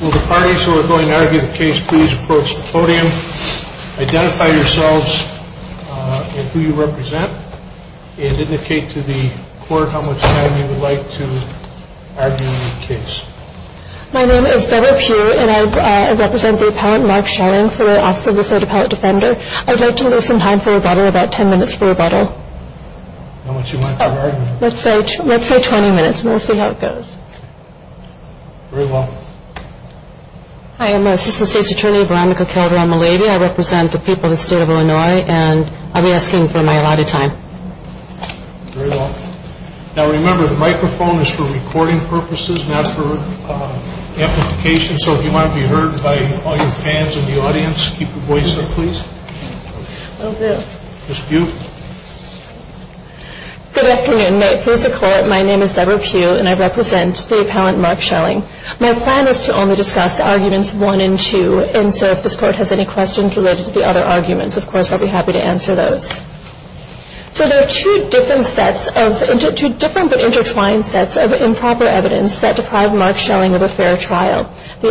Will the parties who are going to argue the case please approach the podium, identify yourselves and who you represent, and indicate to the court how much time you would like to argue the case. My name is Deborah Pugh and I represent the appellant Mark Schelling for the Office of the State Appellate Defender. I would like to lose some time for rebuttal, about 10 minutes for rebuttal. How much do you want to argue? Let's say 20 minutes and we'll see how it goes. Very well. Hi, I'm Assistant State's Attorney Veronica Calderon-Mallaby. I represent the people of the state of Illinois and I'll be asking for my allotted time. Very well. Now remember, the microphone is for recording purposes, not for amplification, so if you want to be heard by all your fans in the audience, keep your voice up, please. Thank you. Ms. Pugh. Good afternoon. Here's the court. My name is Deborah Pugh and I represent the appellant Mark Schelling. My plan is to only discuss arguments one and two, and so if this court has any questions related to the other arguments, of course, I'll be happy to answer those. So there are two different sets of, two different but intertwined sets of improper evidence that deprive Mark Schelling of a fair trial. The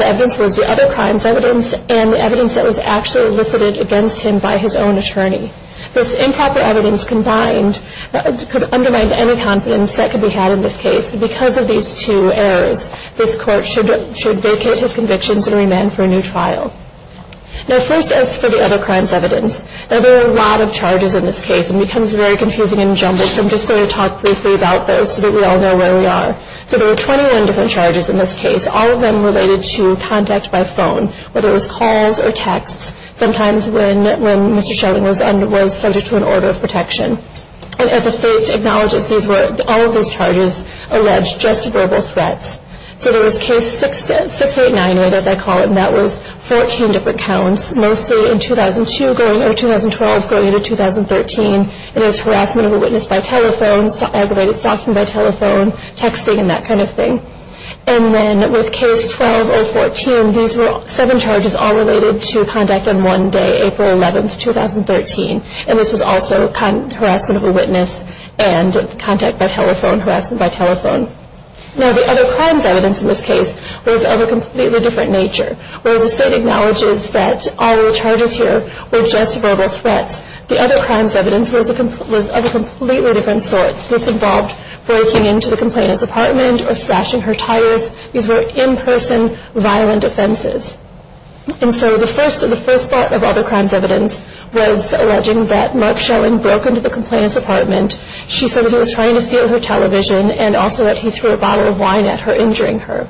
evidence was the other crimes evidence and the evidence that was actually elicited against him by his own attorney. This improper evidence combined could undermine any confidence that could be had in this case. Because of these two errors, this court should vacate his convictions and remand for a new trial. Now first, as for the other crimes evidence, now there are a lot of charges in this case, and it becomes very confusing and jumbled, so I'm just going to talk briefly about those so that we all know where we are. So there were 21 different charges in this case, all of them related to contact by phone, whether it was calls or texts, sometimes when Mr. Schelling was subject to an order of protection. And as the state acknowledges, all of those charges allege just verbal threats. So there was case 6898, as I call it, and that was 14 different counts, mostly in 2002 going, or 2012 going into 2013. It is harassment of a witness by telephone, aggravated stalking by telephone, texting, and that kind of thing. And then with case 12014, these were seven charges all related to contact on one day, April 11, 2013. And this was also harassment of a witness and contact by telephone, harassment by telephone. Now the other crimes evidence in this case was of a completely different nature. Whereas the state acknowledges that all the charges here were just verbal threats, the other crimes evidence was of a completely different sort. This involved breaking into the complainant's apartment or slashing her tires. These were in-person violent offenses. And so the first part of all the crimes evidence was alleging that Mark Schelling broke into the complainant's apartment. She said that he was trying to steal her television and also that he threw a bottle of wine at her, injuring her.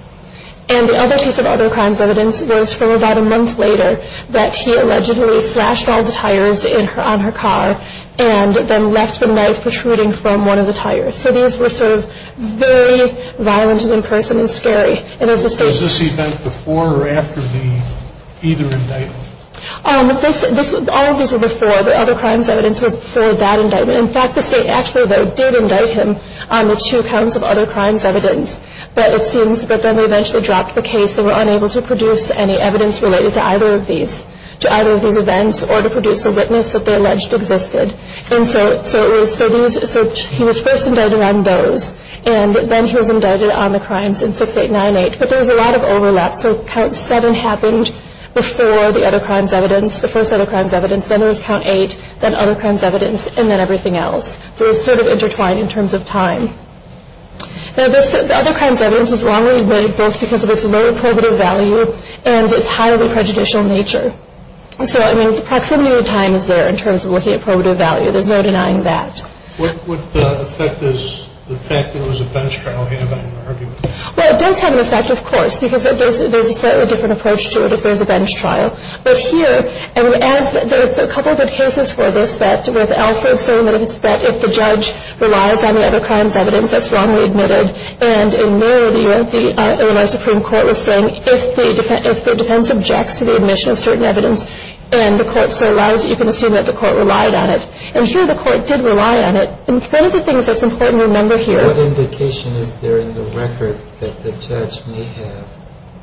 And the other piece of other crimes evidence was from about a month later that he allegedly slashed all the tires on her car and then left the knife protruding from one of the tires. So these were sort of very violent and in-person and scary. And as the state- Was this event before or after the either indictment? All of these were before. The other crimes evidence was before that indictment. In fact, the state actually, though, did indict him on the two counts of other crimes evidence. But it seems that then they eventually dropped the case. They were unable to produce any evidence related to either of these events or to produce a witness that they alleged existed. And so he was first indicted on those. And then he was indicted on the crimes in 6898. But there was a lot of overlap. So Count 7 happened before the other crimes evidence, the first other crimes evidence. Then there was Count 8, then other crimes evidence, and then everything else. So it was sort of intertwined in terms of time. Now, the other crimes evidence was wrongly admitted both because of its low probative value and its highly prejudicial nature. So, I mean, the proximity of time is there in terms of looking at probative value. There's no denying that. What would affect this, the fact that it was a bench trial having an argument? Well, it does have an effect, of course, because there's a slightly different approach to it if there's a bench trial. But here, and as there's a couple of good cases for this, that where the alpha is so limited that if the judge relies on the other crimes evidence, that's wrongly admitted. And in Merrill, the U.S. Supreme Court was saying if the defense objects to the admission of certain evidence and the court so relies, you can assume that the court relied on it. And here the court did rely on it. And one of the things that's important to remember here. What indication is there in the record that the judge may have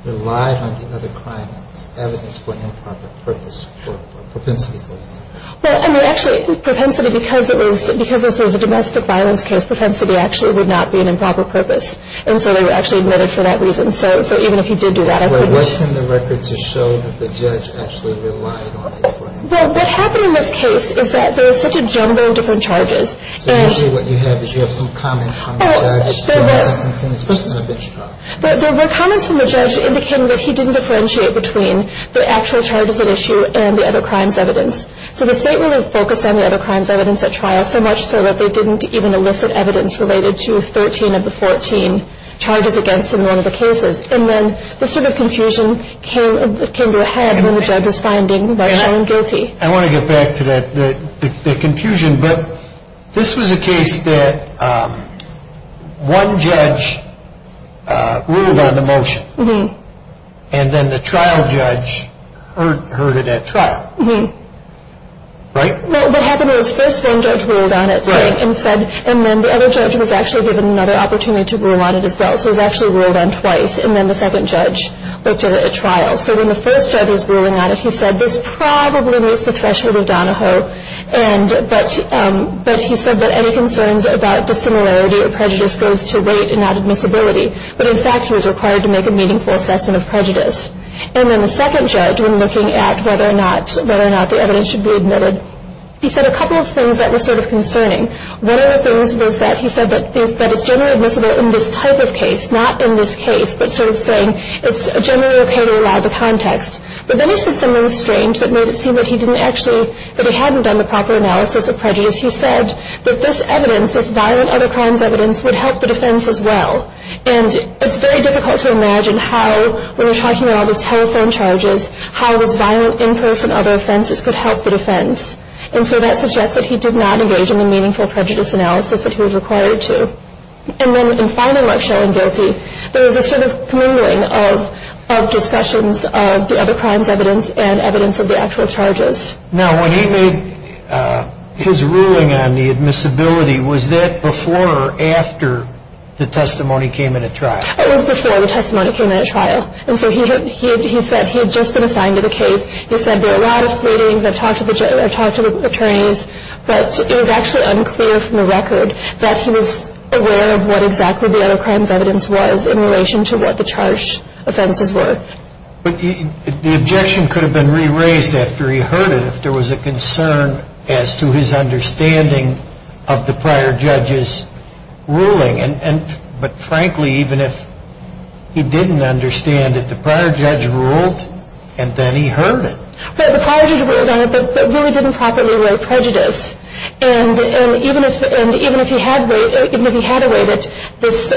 relied on the other crimes evidence for improper purpose or propensity, for example? Well, I mean, actually, propensity, because this was a domestic violence case, propensity actually would not be an improper purpose. And so they were actually admitted for that reason. So even if he did do that, I wouldn't. Well, what's in the record to show that the judge actually relied on it? Well, what happened in this case is that there was such a jumbo of different charges. So usually what you have is you have some comment from the judge. There were comments from the judge indicating that he didn't differentiate between the actual charges at issue and the other crimes evidence. So the state really focused on the other crimes evidence at trial so much so that they didn't even elicit evidence related to 13 of the 14 charges against him in one of the cases. And then this sort of confusion came to a head when the judge was finding what's shown guilty. I want to get back to the confusion. But this was a case that one judge ruled on the motion and then the trial judge heard it at trial, right? Well, what happened was first one judge ruled on it and said, and then the other judge was actually given another opportunity to rule on it as well. So it was actually ruled on twice. And then the second judge looked at it at trial. So when the first judge was ruling on it, he said this probably meets the threshold of Donahoe. But he said that any concerns about dissimilarity or prejudice goes to weight and not admissibility. But, in fact, he was required to make a meaningful assessment of prejudice. And then the second judge, when looking at whether or not the evidence should be admitted, he said a couple of things that were sort of concerning. One of the things was that he said that it's generally admissible in this type of case, not in this case, but sort of saying it's generally okay to allow the context. But then he said something strange that made it seem that he didn't actually, that he hadn't done the proper analysis of prejudice. He said that this evidence, this violent other crimes evidence, would help the defense as well. And it's very difficult to imagine how, when you're talking about all these telephone charges, how this violent in-person other offenses could help the defense. And so that suggests that he did not engage in the meaningful prejudice analysis that he was required to. And then, in a final nutshell, in Guilty, there was a sort of commingling of discussions of the other crimes evidence and evidence of the actual charges. Now, when he made his ruling on the admissibility, was that before or after the testimony came in at trial? It was before the testimony came in at trial. And so he said he had just been assigned to the case. He said, there are a lot of pleadings, I've talked to the attorneys, but it was actually unclear from the record that he was aware of what exactly the other crimes evidence was in relation to what the charge offenses were. But the objection could have been re-raised after he heard it, if there was a concern as to his understanding of the prior judge's ruling. But, frankly, even if he didn't understand it, the prior judge ruled, and then he heard it. But the prior judge ruled on it, but really didn't properly weigh prejudice. And even if he had weighed it, this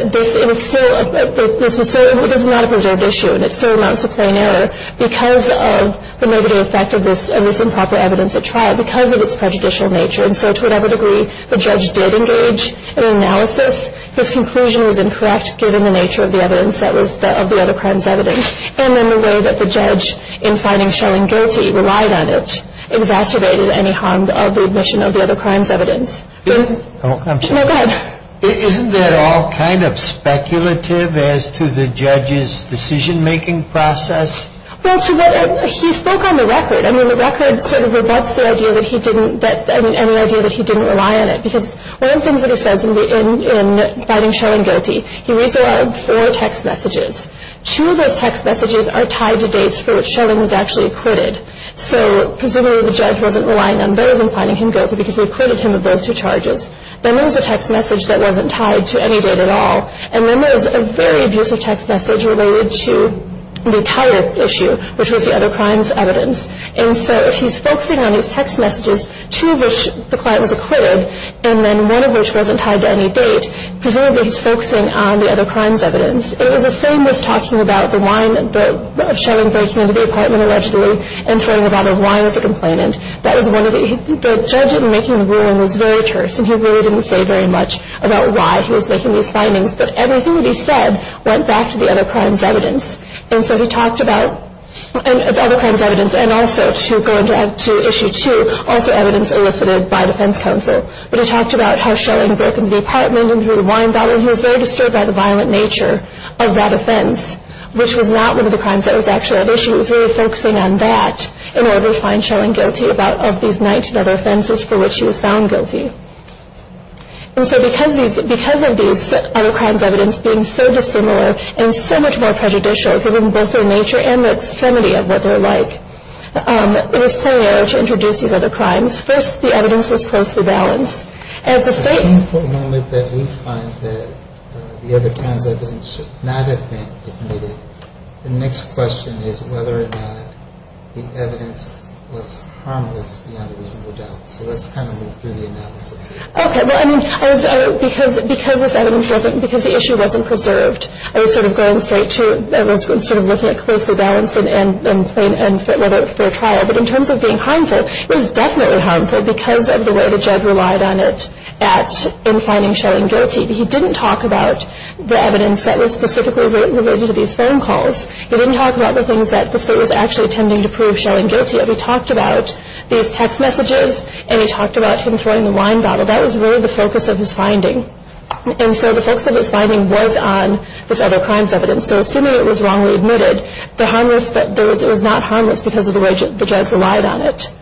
is not a preserved issue, and it still amounts to plain error because of the negative effect of this improper evidence at trial because of its prejudicial nature. And so, to whatever degree the judge did engage in analysis, his conclusion was incorrect given the nature of the evidence that was of the other crimes evidence. And then the way that the judge, in finding Schoen guilty, relied on it, exacerbated any harm of the admission of the other crimes evidence. Go ahead. Isn't that all kind of speculative as to the judge's decision-making process? Well, to what, he spoke on the record. I mean, the record sort of rebuts the idea that he didn't, I mean, any idea that he didn't rely on it because one of the things that he says in finding Schoen guilty, he reads there are four text messages. Two of those text messages are tied to dates for which Schoen was actually acquitted. So presumably the judge wasn't relying on those in finding him guilty because he acquitted him of those two charges. Then there was a text message that wasn't tied to any date at all. And then there was a very abusive text message related to the entire issue, which was the other crimes evidence. And so if he's focusing on his text messages, two of which the client was acquitted, and then one of which wasn't tied to any date, presumably he's focusing on the other crimes evidence. It was the same with talking about the wine threat of Schoen breaking into the apartment allegedly and throwing a bottle of wine at the complainant. That was one of the – the judge in making the ruling was very terse, and he really didn't say very much about why he was making these findings. But everything that he said went back to the other crimes evidence. And so he talked about the other crimes evidence and also to go into issue two, also evidence elicited by defense counsel. But he talked about how Schoen had broken into the apartment and threw a wine bottle, and he was very disturbed by the violent nature of that offense, which was not one of the crimes that was actually at issue. He was really focusing on that in order to find Schoen guilty of these 19 other offenses for which he was found guilty. And so because of these other crimes evidence being so dissimilar and so much more prejudicial given both their nature and the extremity of what they're like, it was preliminary to introduce these other crimes. First, the evidence was closely balanced. It's an important moment that we find that the other crimes evidence should not have been admitted. The next question is whether or not the evidence was harmless beyond a reasonable doubt. So let's kind of move through the analysis here. Okay. Well, I mean, because this evidence wasn't – because the issue wasn't preserved, I was sort of going straight to – I was sort of looking at closely balanced and fair trial. But in terms of being harmful, it was definitely harmful because of the way the judge relied on it in finding Schoen guilty. He didn't talk about the evidence that was specifically related to these phone calls. He didn't talk about the things that the state was actually intending to prove Schoen guilty of. He talked about these text messages, and he talked about him throwing the wine bottle. That was really the focus of his finding. And so the focus of his finding was on this other crimes evidence. And so assuming it was wrongly admitted, the harmless – it was not harmless because of the way the judge relied on it.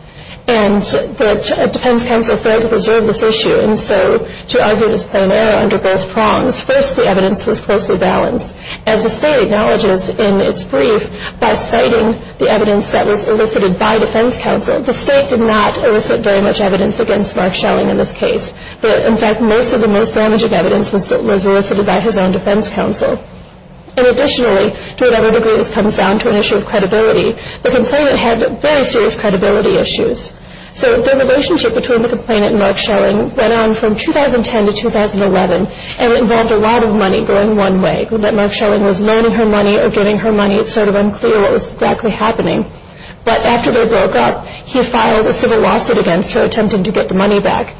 And the defense counsel failed to preserve this issue. And so to argue this plain error under both prongs, first, the evidence was closely balanced. As the state acknowledges in its brief, by citing the evidence that was elicited by defense counsel, the state did not elicit very much evidence against Mark Schoen in this case. In fact, most of the most damaging evidence was elicited by his own defense counsel. And additionally, to whatever degree this comes down to an issue of credibility, the complainant had very serious credibility issues. So the relationship between the complainant and Mark Schoen went on from 2010 to 2011 and involved a lot of money going one way, that Mark Schoen was learning her money or getting her money. It's sort of unclear what was exactly happening. But after they broke up, he filed a civil lawsuit against her, attempting to get the money back.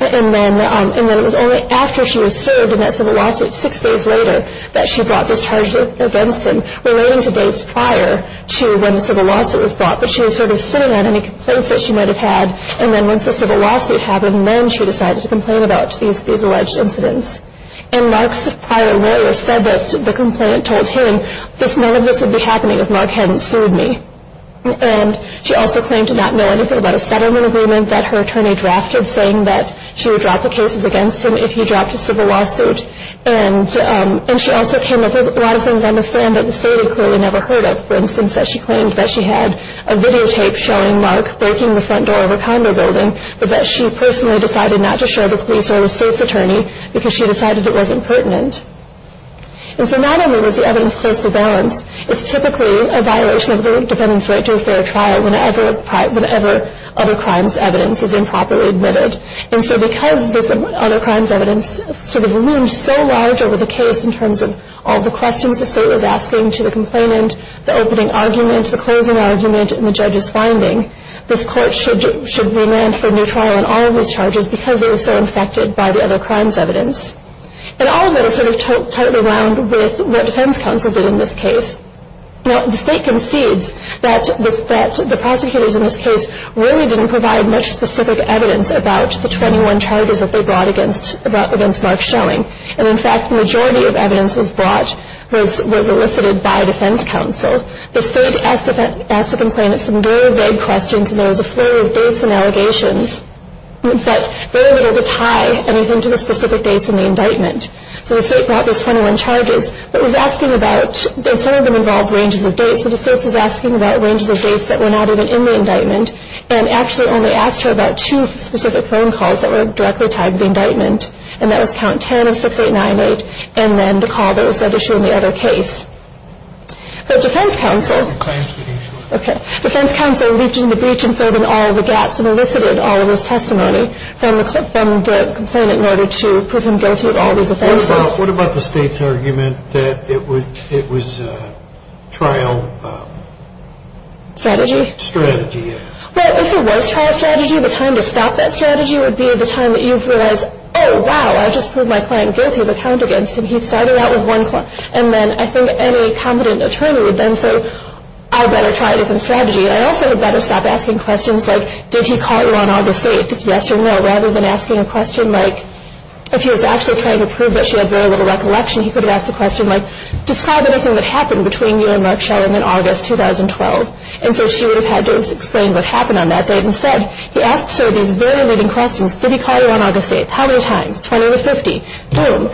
And then it was only after she was served in that civil lawsuit six days later that she brought this charge against him, relating to dates prior to when the civil lawsuit was brought. But she was sort of sitting on any complaints that she might have had. And then once the civil lawsuit happened, then she decided to complain about these alleged incidents. And Mark's prior lawyer said that the complainant told him, none of this would be happening if Mark hadn't sued me. And she also claimed to not know anything about a settlement agreement that her attorney drafted, saying that she would drop the cases against him if he dropped a civil lawsuit. And she also came up with a lot of things on the stand that the state had clearly never heard of. For instance, that she claimed that she had a videotape showing Mark breaking the front door of a condo building, but that she personally decided not to show the police or the state's attorney because she decided it wasn't pertinent. And so not only was the evidence close to balance, it's typically a violation of the defendant's right to a fair trial whenever other crimes' evidence is improperly admitted. And so because this other crimes' evidence sort of loomed so large over the case in terms of all the questions the state was asking to the complainant, the opening argument, the closing argument, and the judge's finding, this court should remand for a new trial on all of these charges And all of that is sort of tied around with what defense counsel did in this case. Now, the state concedes that the prosecutors in this case really didn't provide much specific evidence about the 21 charges that they brought against Mark Schelling. And in fact, the majority of evidence was brought, was elicited by defense counsel. The state asked the complainant some very vague questions, and there was a flurry of dates and allegations, but very little to tie anything to the specific dates in the indictment. So the state brought those 21 charges, but was asking about, and some of them involved ranges of dates, but the state was asking about ranges of dates that were not even in the indictment and actually only asked her about two specific phone calls that were directly tied to the indictment. And that was count 10 of 6898, and then the call that was issued in the other case. But defense counsel, okay. from the complainant in order to prove him guilty of all these offenses. What about the state's argument that it was trial strategy? Strategy, yeah. Well, if it was trial strategy, the time to stop that strategy would be the time that you've realized, oh, wow, I just proved my client guilty of a count against him. He started out with one claim, and then I think any competent attorney would then say, I better try a different strategy. I also had better stop asking questions like, did he call you on August 8th, yes or no, rather than asking a question like, if he was actually trying to prove that she had very little recollection, he could have asked a question like, describe everything that happened between you and Mark Sheldon in August 2012. And so she would have had to explain what happened on that date. Instead, he asks her these very leading questions. Did he call you on August 8th? How many times? 20 to 50. Boom.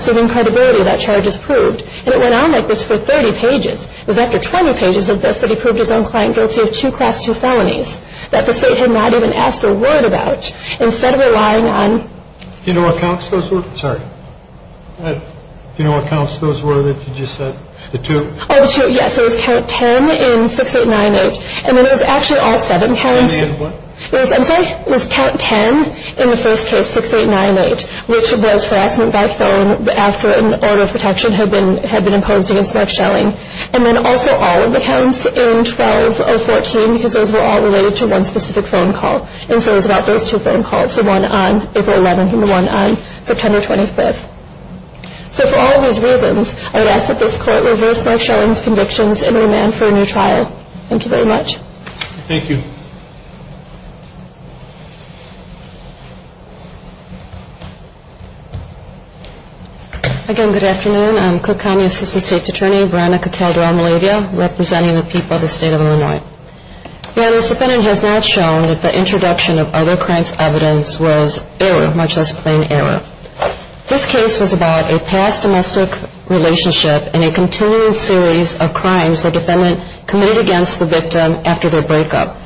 Assuming credibility, that charge is proved. And it went on like this for 30 pages. It was after 20 pages of this that he proved his own client guilty of two Class 2 felonies that the State had not even asked a word about. Instead of relying on... Do you know what counts those were? Sorry. Do you know what counts those were that you just said? The two? Oh, the two, yes. It was count 10 in 6898, and then it was actually all seven counts. I mean, what? I'm sorry? It was count 10 in the first case, 6898, which was harassment by phone after an order of protection had been imposed against Mark Sheldon. And then also all of the counts in 12 of 14, because those were all related to one specific phone call. And so it was about those two phone calls, the one on April 11th and the one on September 25th. So for all of these reasons, I would ask that this Court reverse Mark Sheldon's convictions and remand for a new trial. Thank you very much. Thank you. Again, good afternoon. I'm Cook County Assistant State Attorney Veronica Calderon-Malavia, representing the people of the State of Illinois. Your Honor, this defendant has not shown that the introduction of other crimes' evidence was error, much less plain error. This case was about a past domestic relationship and a continuing series of crimes the defendant committed against the victim after their breakup.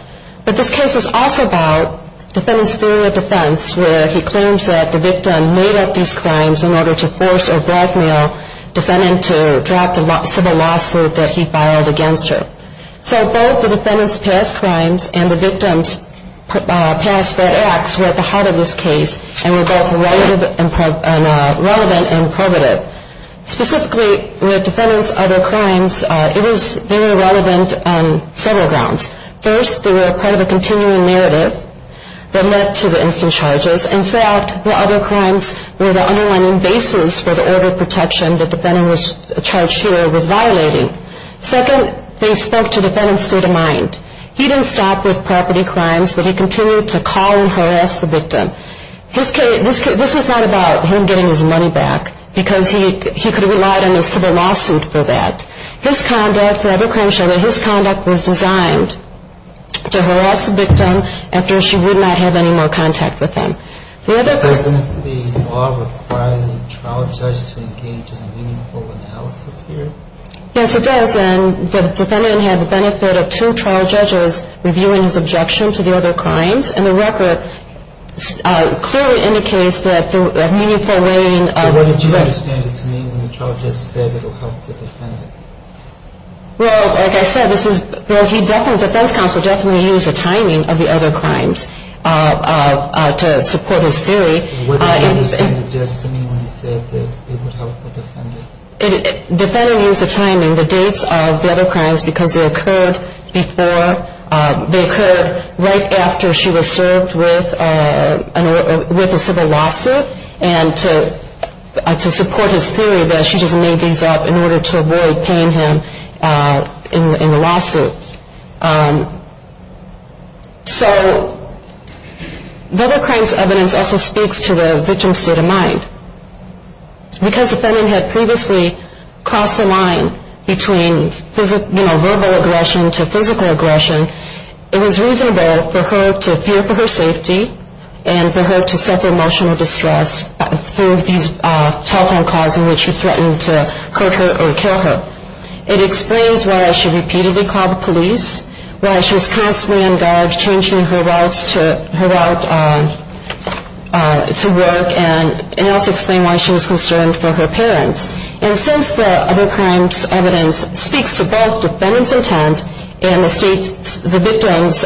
But this case was also about the defendant's theory of defense, where he claims that the victim made up these crimes in order to force or blackmail the defendant to drop the civil lawsuit that he filed against her. So both the defendant's past crimes and the victim's past bad acts were at the heart of this case and were both relevant and primitive. Specifically, the defendant's other crimes, it was very relevant on several grounds. First, they were part of a continuing narrative that led to the instant charges. In fact, the other crimes were the underlying basis for the order of protection that the defendant was charged here with violating. Second, they spoke to the defendant's state of mind. He didn't stop with property crimes, but he continued to call and harass the victim. This was not about him getting his money back because he could have relied on a civil lawsuit for that. His conduct, the other crimes show that his conduct was designed to harass the victim after she would not have any more contact with him. Doesn't the law require the trial judge to engage in a meaningful analysis here? Yes, it does. And the defendant had the benefit of two trial judges reviewing his objection to the other crimes. What did you understand it to mean when the trial judge said it would help the defendant? Well, like I said, the defense counsel definitely used the timing of the other crimes to support his theory. What did you understand it just to mean when he said that it would help the defendant? The defendant used the timing, the dates of the other crimes, because they occurred right after she was served with a civil lawsuit and to support his theory that she just made these up in order to avoid paying him in the lawsuit. So the other crimes' evidence also speaks to the victim's state of mind. Because the defendant had previously crossed the line between verbal aggression to physical aggression, it was reasonable for her to fear for her safety and for her to suffer emotional distress through these telephone calls in which she threatened to hurt her or kill her. It explains why she repeatedly called the police, why she was constantly engaged changing her route to work, and it also explains why she was concerned for her parents. And since the other crimes' evidence speaks to both the defendant's intent and the victim's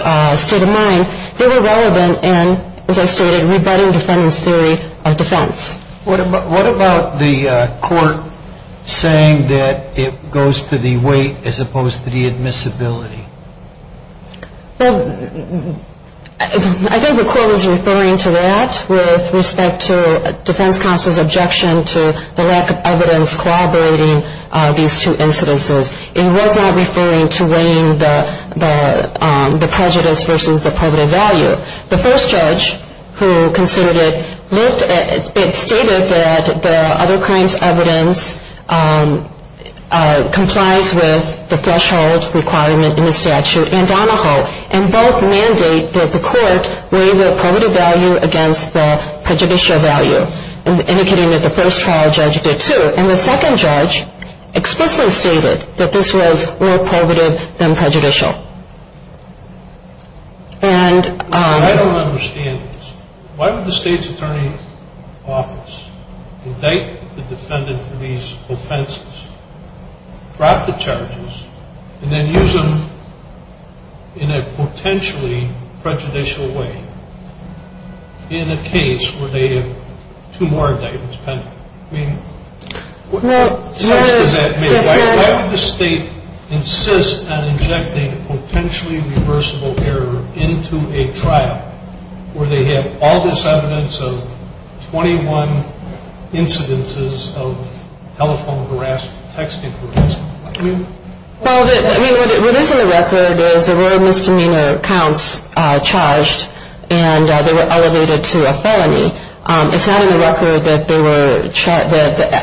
state of mind, they were relevant in, as I stated, rebutting the defendant's theory of defense. What about the court saying that it goes to the weight as opposed to the admissibility? Well, I think the court was referring to that with respect to defense counsel's objection to the lack of evidence corroborating these two incidences. It was not referring to weighing the prejudice versus the private value. The first judge who considered it, it stated that the other crimes' evidence complies with the threshold requirement in the statute and both mandate that the court weigh the probative value against the prejudicial value, indicating that the first trial judge did too. And the second judge explicitly stated that this was more probative than prejudicial. I don't understand this. Why would the state's attorney's office indict the defendant for these offenses, drop the charges, and then use them in a potentially prejudicial way in a case where they have two more indictments pending? I mean, what sense does that make? Why would the state insist on injecting potentially reversible error into a trial where they have all this evidence of 21 incidences of telephone harassment, text interference? Well, I mean, what is in the record is there were misdemeanor counts charged, and they were elevated to a felony. It's not in the record that they were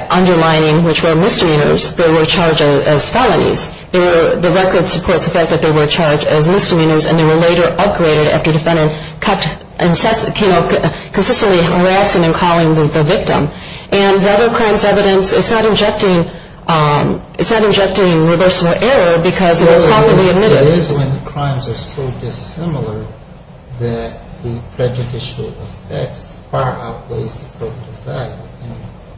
undermining which were misdemeanors. They were charged as felonies. The record supports the fact that they were charged as misdemeanors, and they were later upgraded after the defendant kept consistently harassing and calling the victim. And the other crimes evidence, it's not injecting reversible error because they were commonly admitted. It is when the crimes are so dissimilar that the prejudicial effect far outweighs the probative value, and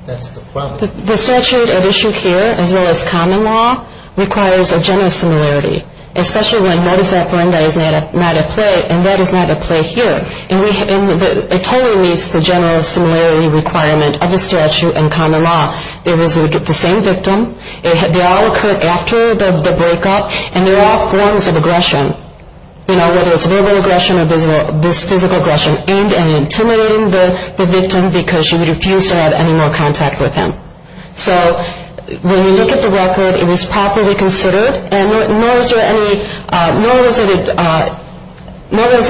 that's the problem. The statute at issue here, as well as common law, requires a general similarity, especially when modus operandi is not at play, and that is not at play here. It totally meets the general similarity requirement of the statute and common law. It was the same victim. They all occurred after the breakup, and they're all forms of aggression, whether it's verbal aggression or physical aggression aimed at intimidating the victim because she would refuse to have any more contact with him. So when you look at the record, it was properly considered, nor was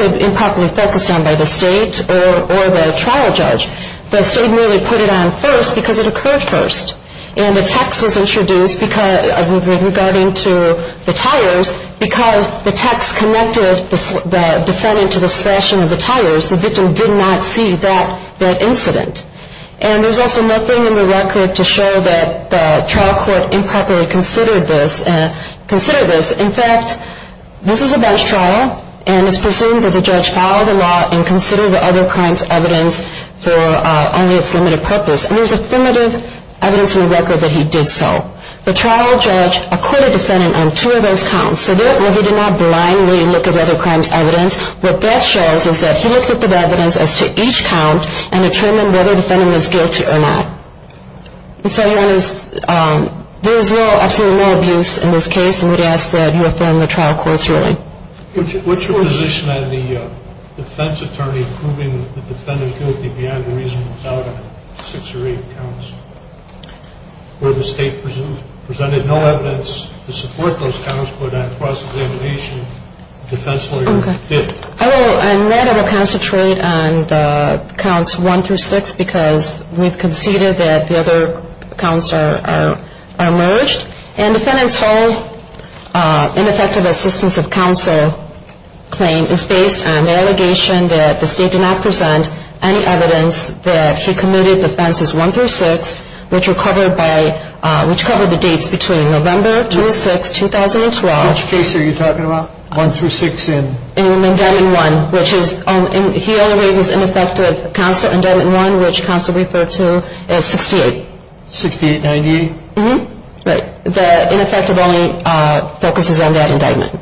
it improperly focused on by the state or the trial judge. The state merely put it on first because it occurred first, and the text was introduced regarding to the tires because the text connected the defendant to the slashing of the tires. The victim did not see that incident. And there's also nothing in the record to show that the trial court improperly considered this. In fact, this is a bench trial, and it's presumed that the judge followed the law and considered the other crime's evidence for only its limited purpose. And there's affirmative evidence in the record that he did so. The trial judge acquitted the defendant on two of those counts. What that shows is that he looked at the evidence as to each count and determined whether the defendant was guilty or not. And so there is absolutely no abuse in this case, and we ask that you affirm the trial court's ruling. What's your position on the defense attorney proving the defendant guilty beyond the reasonable doubt of six or eight counts? Where the state presented no evidence to support those counts, but on cross-examination, the defense lawyer did. I will rather concentrate on the counts one through six because we've conceded that the other counts are merged. And defendant's whole ineffective assistance of counsel claim is based on the allegation that the state did not present any evidence that he committed offenses one through six, which covered the dates between November 26, 2012. Which case are you talking about, one through six in? In indictment one. He only raises ineffective counsel indictment one, which counsel referred to as 68. 6898? Right. The ineffective only focuses on that indictment.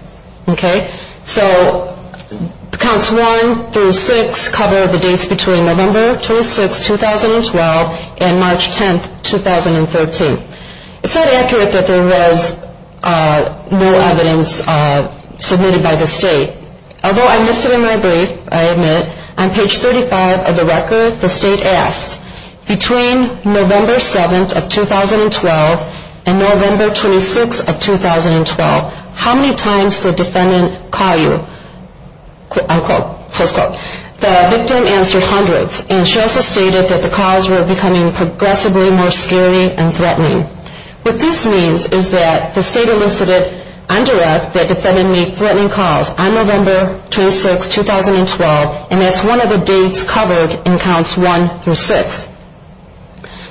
So counts one through six cover the dates between November 26, 2012 and March 10, 2013. It's not accurate that there was no evidence submitted by the state. Although I missed it in my brief, I admit, on page 35 of the record, the state asked, between November 7th of 2012 and November 26th of 2012, how many times did the defendant call you? Unquote. Close quote. The victim answered hundreds, and she also stated that the calls were becoming progressively more scary and threatening. What this means is that the state elicited undirect that defendant made threatening calls on November 26, 2012, and that's one of the dates covered in counts one through six.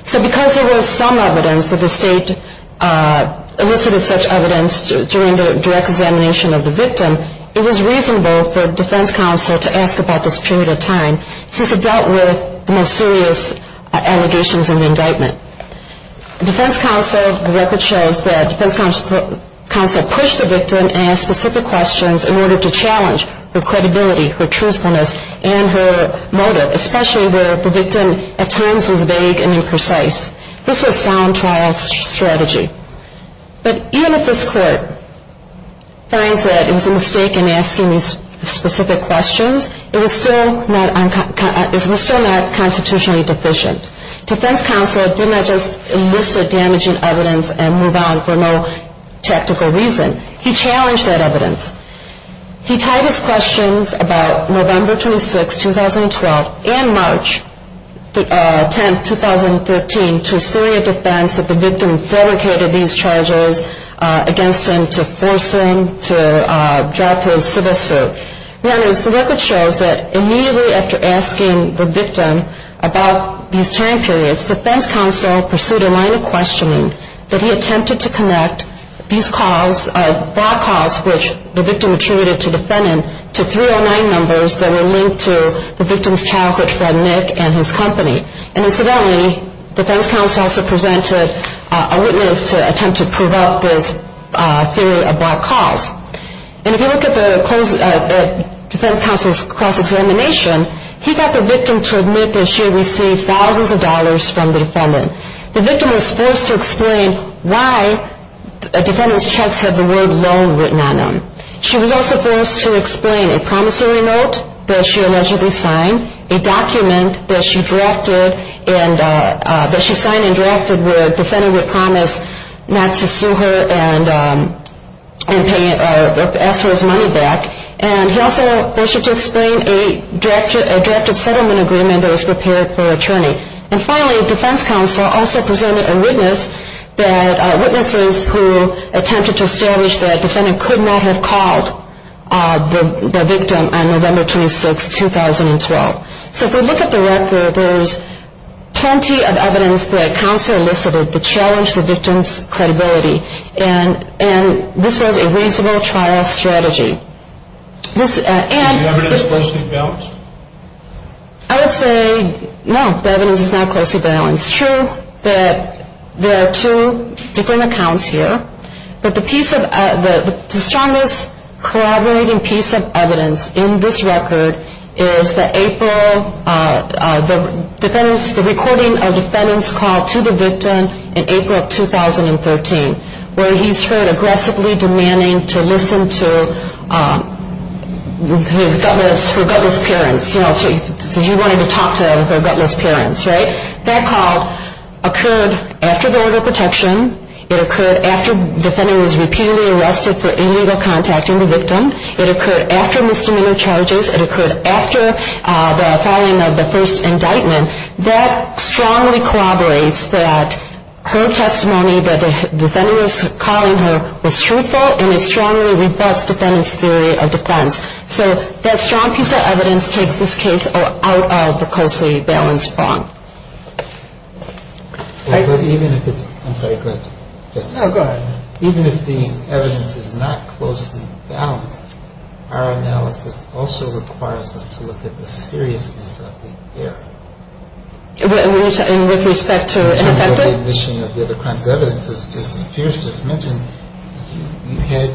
So because there was some evidence that the state elicited such evidence during the direct examination of the victim, it was reasonable for defense counsel to ask about this period of time, since it dealt with the most serious allegations in the indictment. Defense counsel, the record shows that defense counsel pushed the victim and asked specific questions in order to challenge her credibility, her truthfulness, and her motive, especially where the victim at times was vague and imprecise. This was sound trial strategy. But even if this court finds that it was a mistake in asking these specific questions, it was still not constitutionally deficient. Defense counsel did not just elicit damaging evidence and move on for no tactical reason. He challenged that evidence. He tied his questions about November 26, 2012, and March 10, 2013, to a series of defense that the victim fabricated these charges against him to force him to drop his civil suit. The record shows that immediately after asking the victim about these time periods, defense counsel pursued a line of questioning that he attempted to connect these calls, block calls which the victim attributed to the defendant, to 309 numbers that were linked to the victim's childhood friend Nick and his company. And incidentally, defense counsel also presented a witness to attempt to prove out this theory of block calls. And if you look at the defense counsel's cross-examination, he got the victim to admit that she had received thousands of dollars from the defendant. The victim was forced to explain why the defendant's checks had the word loan written on them. She was also forced to explain a promissory note that she allegedly signed, a document that she signed and drafted where the defendant would promise not to sue her and ask for his money back. And he also was forced to explain a drafted settlement agreement that was prepared for an attorney. And finally, defense counsel also presented a witness that witnesses who attempted to establish that the defendant could not have called the victim on November 26, 2012. So if we look at the record, there's plenty of evidence that counsel elicited to challenge the victim's credibility. And this was a reasonable trial strategy. And... Is the evidence closely balanced? I would say, no, the evidence is not closely balanced. It's true that there are two different accounts here, but the strongest collaborating piece of evidence in this record is the April, the recording of the defendant's call to the victim in April of 2013, where he's heard aggressively demanding to listen to her gutless parents. So he wanted to talk to her gutless parents, right? That call occurred after the order of protection. It occurred after the defendant was repeatedly arrested for illegal contacting the victim. It occurred after misdemeanor charges. It occurred after the filing of the first indictment. That strongly corroborates that her testimony that the defendant was calling her was truthful, and it strongly rebuts defendant's theory of defense. So that strong piece of evidence takes this case out of the closely balanced bond. Even if it's... I'm sorry, go ahead. No, go ahead. Even if the evidence is not closely balanced, our analysis also requires us to look at the seriousness of the error. With respect to ineffective? In terms of the omission of the other crimes evidence, as Justice Pierce just mentioned, you had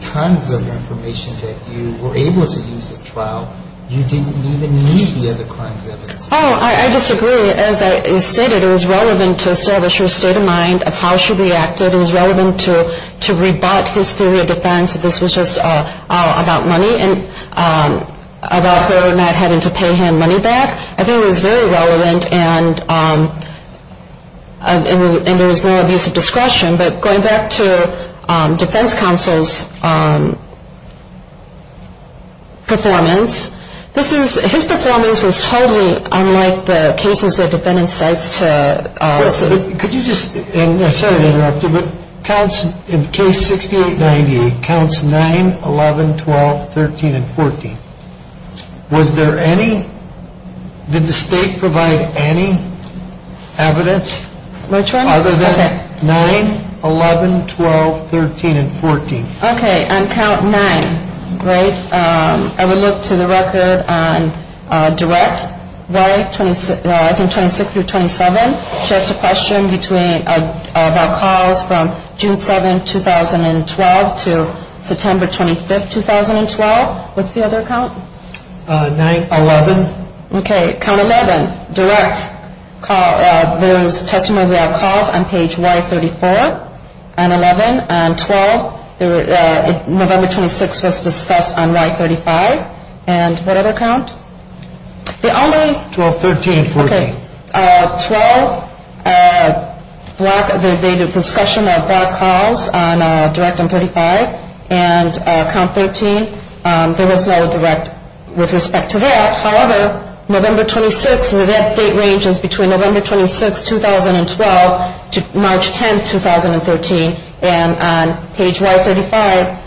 tons of information that you were able to use at trial. You didn't even need the other crimes evidence. Oh, I disagree. As I stated, it was relevant to establish her state of mind of how she reacted. It was relevant to rebut his theory of defense that this was just about money and about her not having to pay him money back. I think it was very relevant, and there was no abuse of discretion. But going back to defense counsel's performance, his performance was totally unlike the cases that defendants cite to us. Could you just, and sorry to interrupt you, but in case 6898, counts 9, 11, 12, 13, and 14. Was there any, did the state provide any evidence? Which one? Other than 9, 11, 12, 13, and 14. Okay, on count 9. Great. I would look to the record on direct, right, from 26 through 27. Just a question about calls from June 7, 2012 to September 25, 2012. What's the other count? 9, 11. Okay, count 11, direct. There was testimony about calls on page Y34 and 11 and 12. November 26 was discussed on Y35. And what other count? The only. 12, 13, 14. Okay, 12, they did discussion about calls on direct on 35. And count 13, there was no direct with respect to that. However, November 26, and that date range is between November 26, 2012 to March 10, 2013. And on page Y35,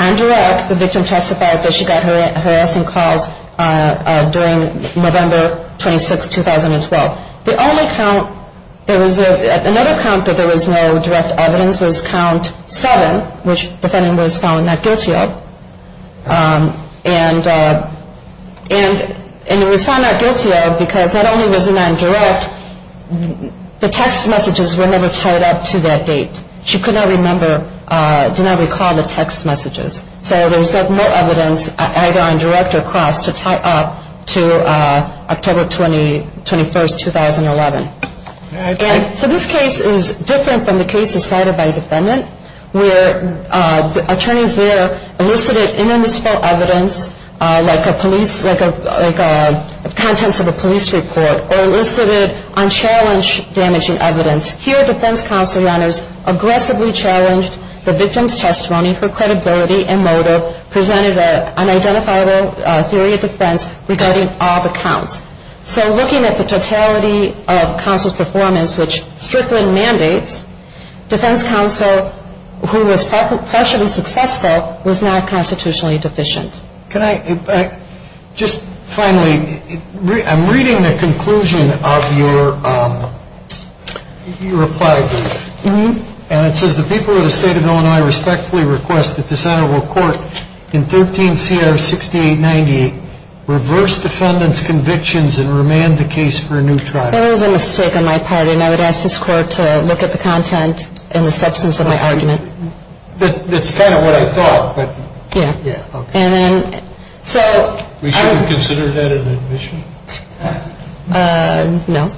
on direct, the victim testified that she got harassing calls during November 26, 2012. The only count that was, another count that there was no direct evidence was count 7, which defendant was found not guilty of. And it was found not guilty of because not only was it on direct, but the text messages were never tied up to that date. She could not remember, did not recall the text messages. So there was no evidence either on direct or cross to tie up to October 21, 2011. So this case is different from the case decided by a defendant where attorneys there elicited indivisible evidence like a police, like contents of a police report or elicited unchallenged damaging evidence. Here, defense counsel runners aggressively challenged the victim's testimony for credibility and motive, presented an identifiable theory of defense regarding all the counts. So looking at the totality of counsel's performance, which Strickland mandates, defense counsel, who was partially successful, was not constitutionally deficient. Can I, just finally, I'm reading the conclusion of your reply brief. And it says the people of the state of Illinois respectfully request that this honorable court in 13 CR 6890 reverse defendant's convictions and remand the case for a new trial. That was a mistake on my part, and I would ask this court to look at the content and the substance of my argument. That's kind of what I thought. Yeah. And so. We should consider that an admission? No.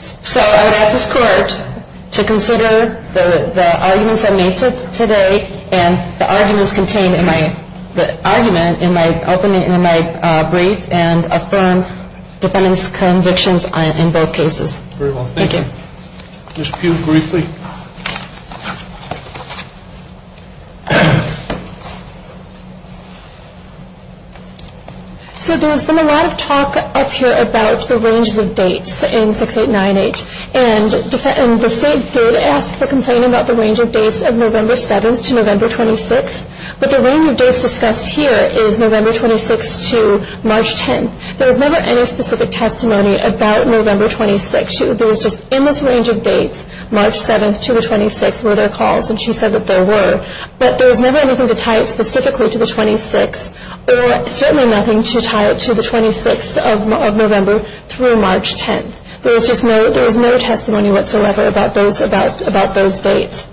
So I would ask this court to consider the arguments I made today and the arguments contained in my argument in my brief and affirm defendant's convictions in both cases. Very well. Thank you. Ms. Pugh, briefly. Thank you. So there's been a lot of talk up here about the ranges of dates in 6898. And the state did ask for complaint about the range of dates of November 7th to November 26th. But the range of dates discussed here is November 26th to March 10th. There was never any specific testimony about November 26th. There was just endless range of dates. March 7th to the 26th were their calls, and she said that there were. But there was never anything to tie it specifically to the 26th or certainly nothing to tie it to the 26th of November through March 10th. There was no testimony whatsoever about those dates.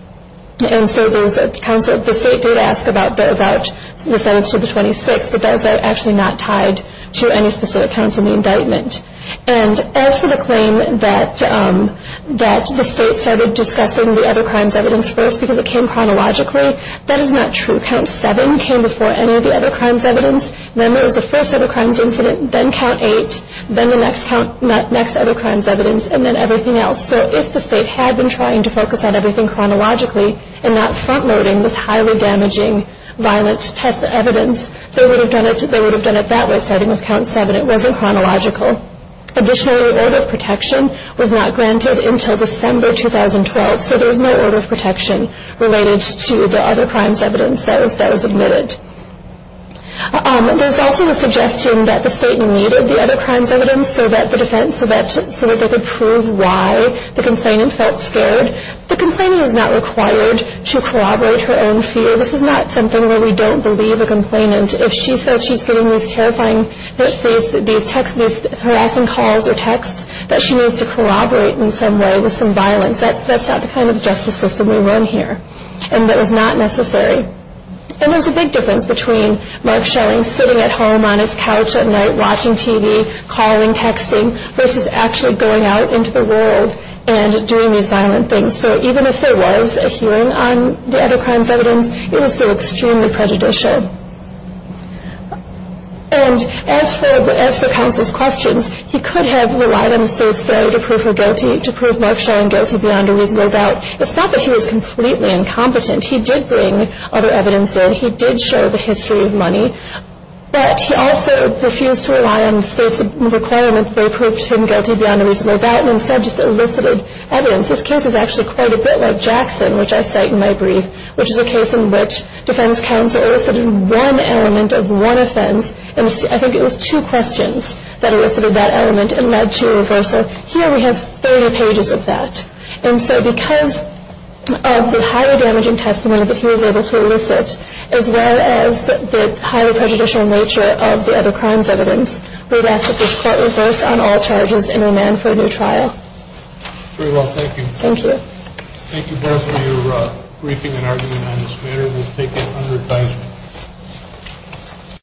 And so the state did ask about the 7th to the 26th, but that is actually not tied to any specific counts in the indictment. And as for the claim that the state started discussing the other crimes evidence first because it came chronologically, that is not true. Count 7 came before any of the other crimes evidence. Then there was the first other crimes incident, then count 8, then the next other crimes evidence, and then everything else. So if the state had been trying to focus on everything chronologically and not front-loading this highly damaging violent test evidence, they would have done it that way starting with count 7. It wasn't chronological. Additionally, order of protection was not granted until December 2012, so there was no order of protection related to the other crimes evidence that was admitted. There was also a suggestion that the state needed the other crimes evidence so that they could prove why the complainant felt scared. The complainant is not required to corroborate her own fear. This is not something where we don't believe a complainant. If she says she's getting these harassing calls or texts, that she needs to corroborate in some way with some violence, that's not the kind of justice system we run here, and that was not necessary. And there's a big difference between Mark Shelling sitting at home on his couch at night watching TV, calling, texting, versus actually going out into the world and doing these violent things. So even if there was a hearing on the other crimes evidence, it was still extremely prejudicial. And as for counsel's questions, he could have relied on the states, though, to prove Mark Shelling guilty beyond a reasonable doubt. It's not that he was completely incompetent. He did bring other evidence in. He did show the history of money, but he also refused to rely on the states' requirement that they proved him guilty beyond a reasonable doubt and instead just elicited evidence. This case is actually quite a bit like Jackson, which I cite in my brief, which is a case in which defense counsel elicited one element of one offense, and I think it was two questions that elicited that element and led to a reversal. Here we have 30 pages of that. And so because of the highly damaging testimony that he was able to elicit, as well as the highly prejudicial nature of the other crimes evidence, we've asked that this court reverse on all charges and remand for a new trial. Very well. Thank you. Thank you both for your briefing and argument on this matter. We'll take it under advisory.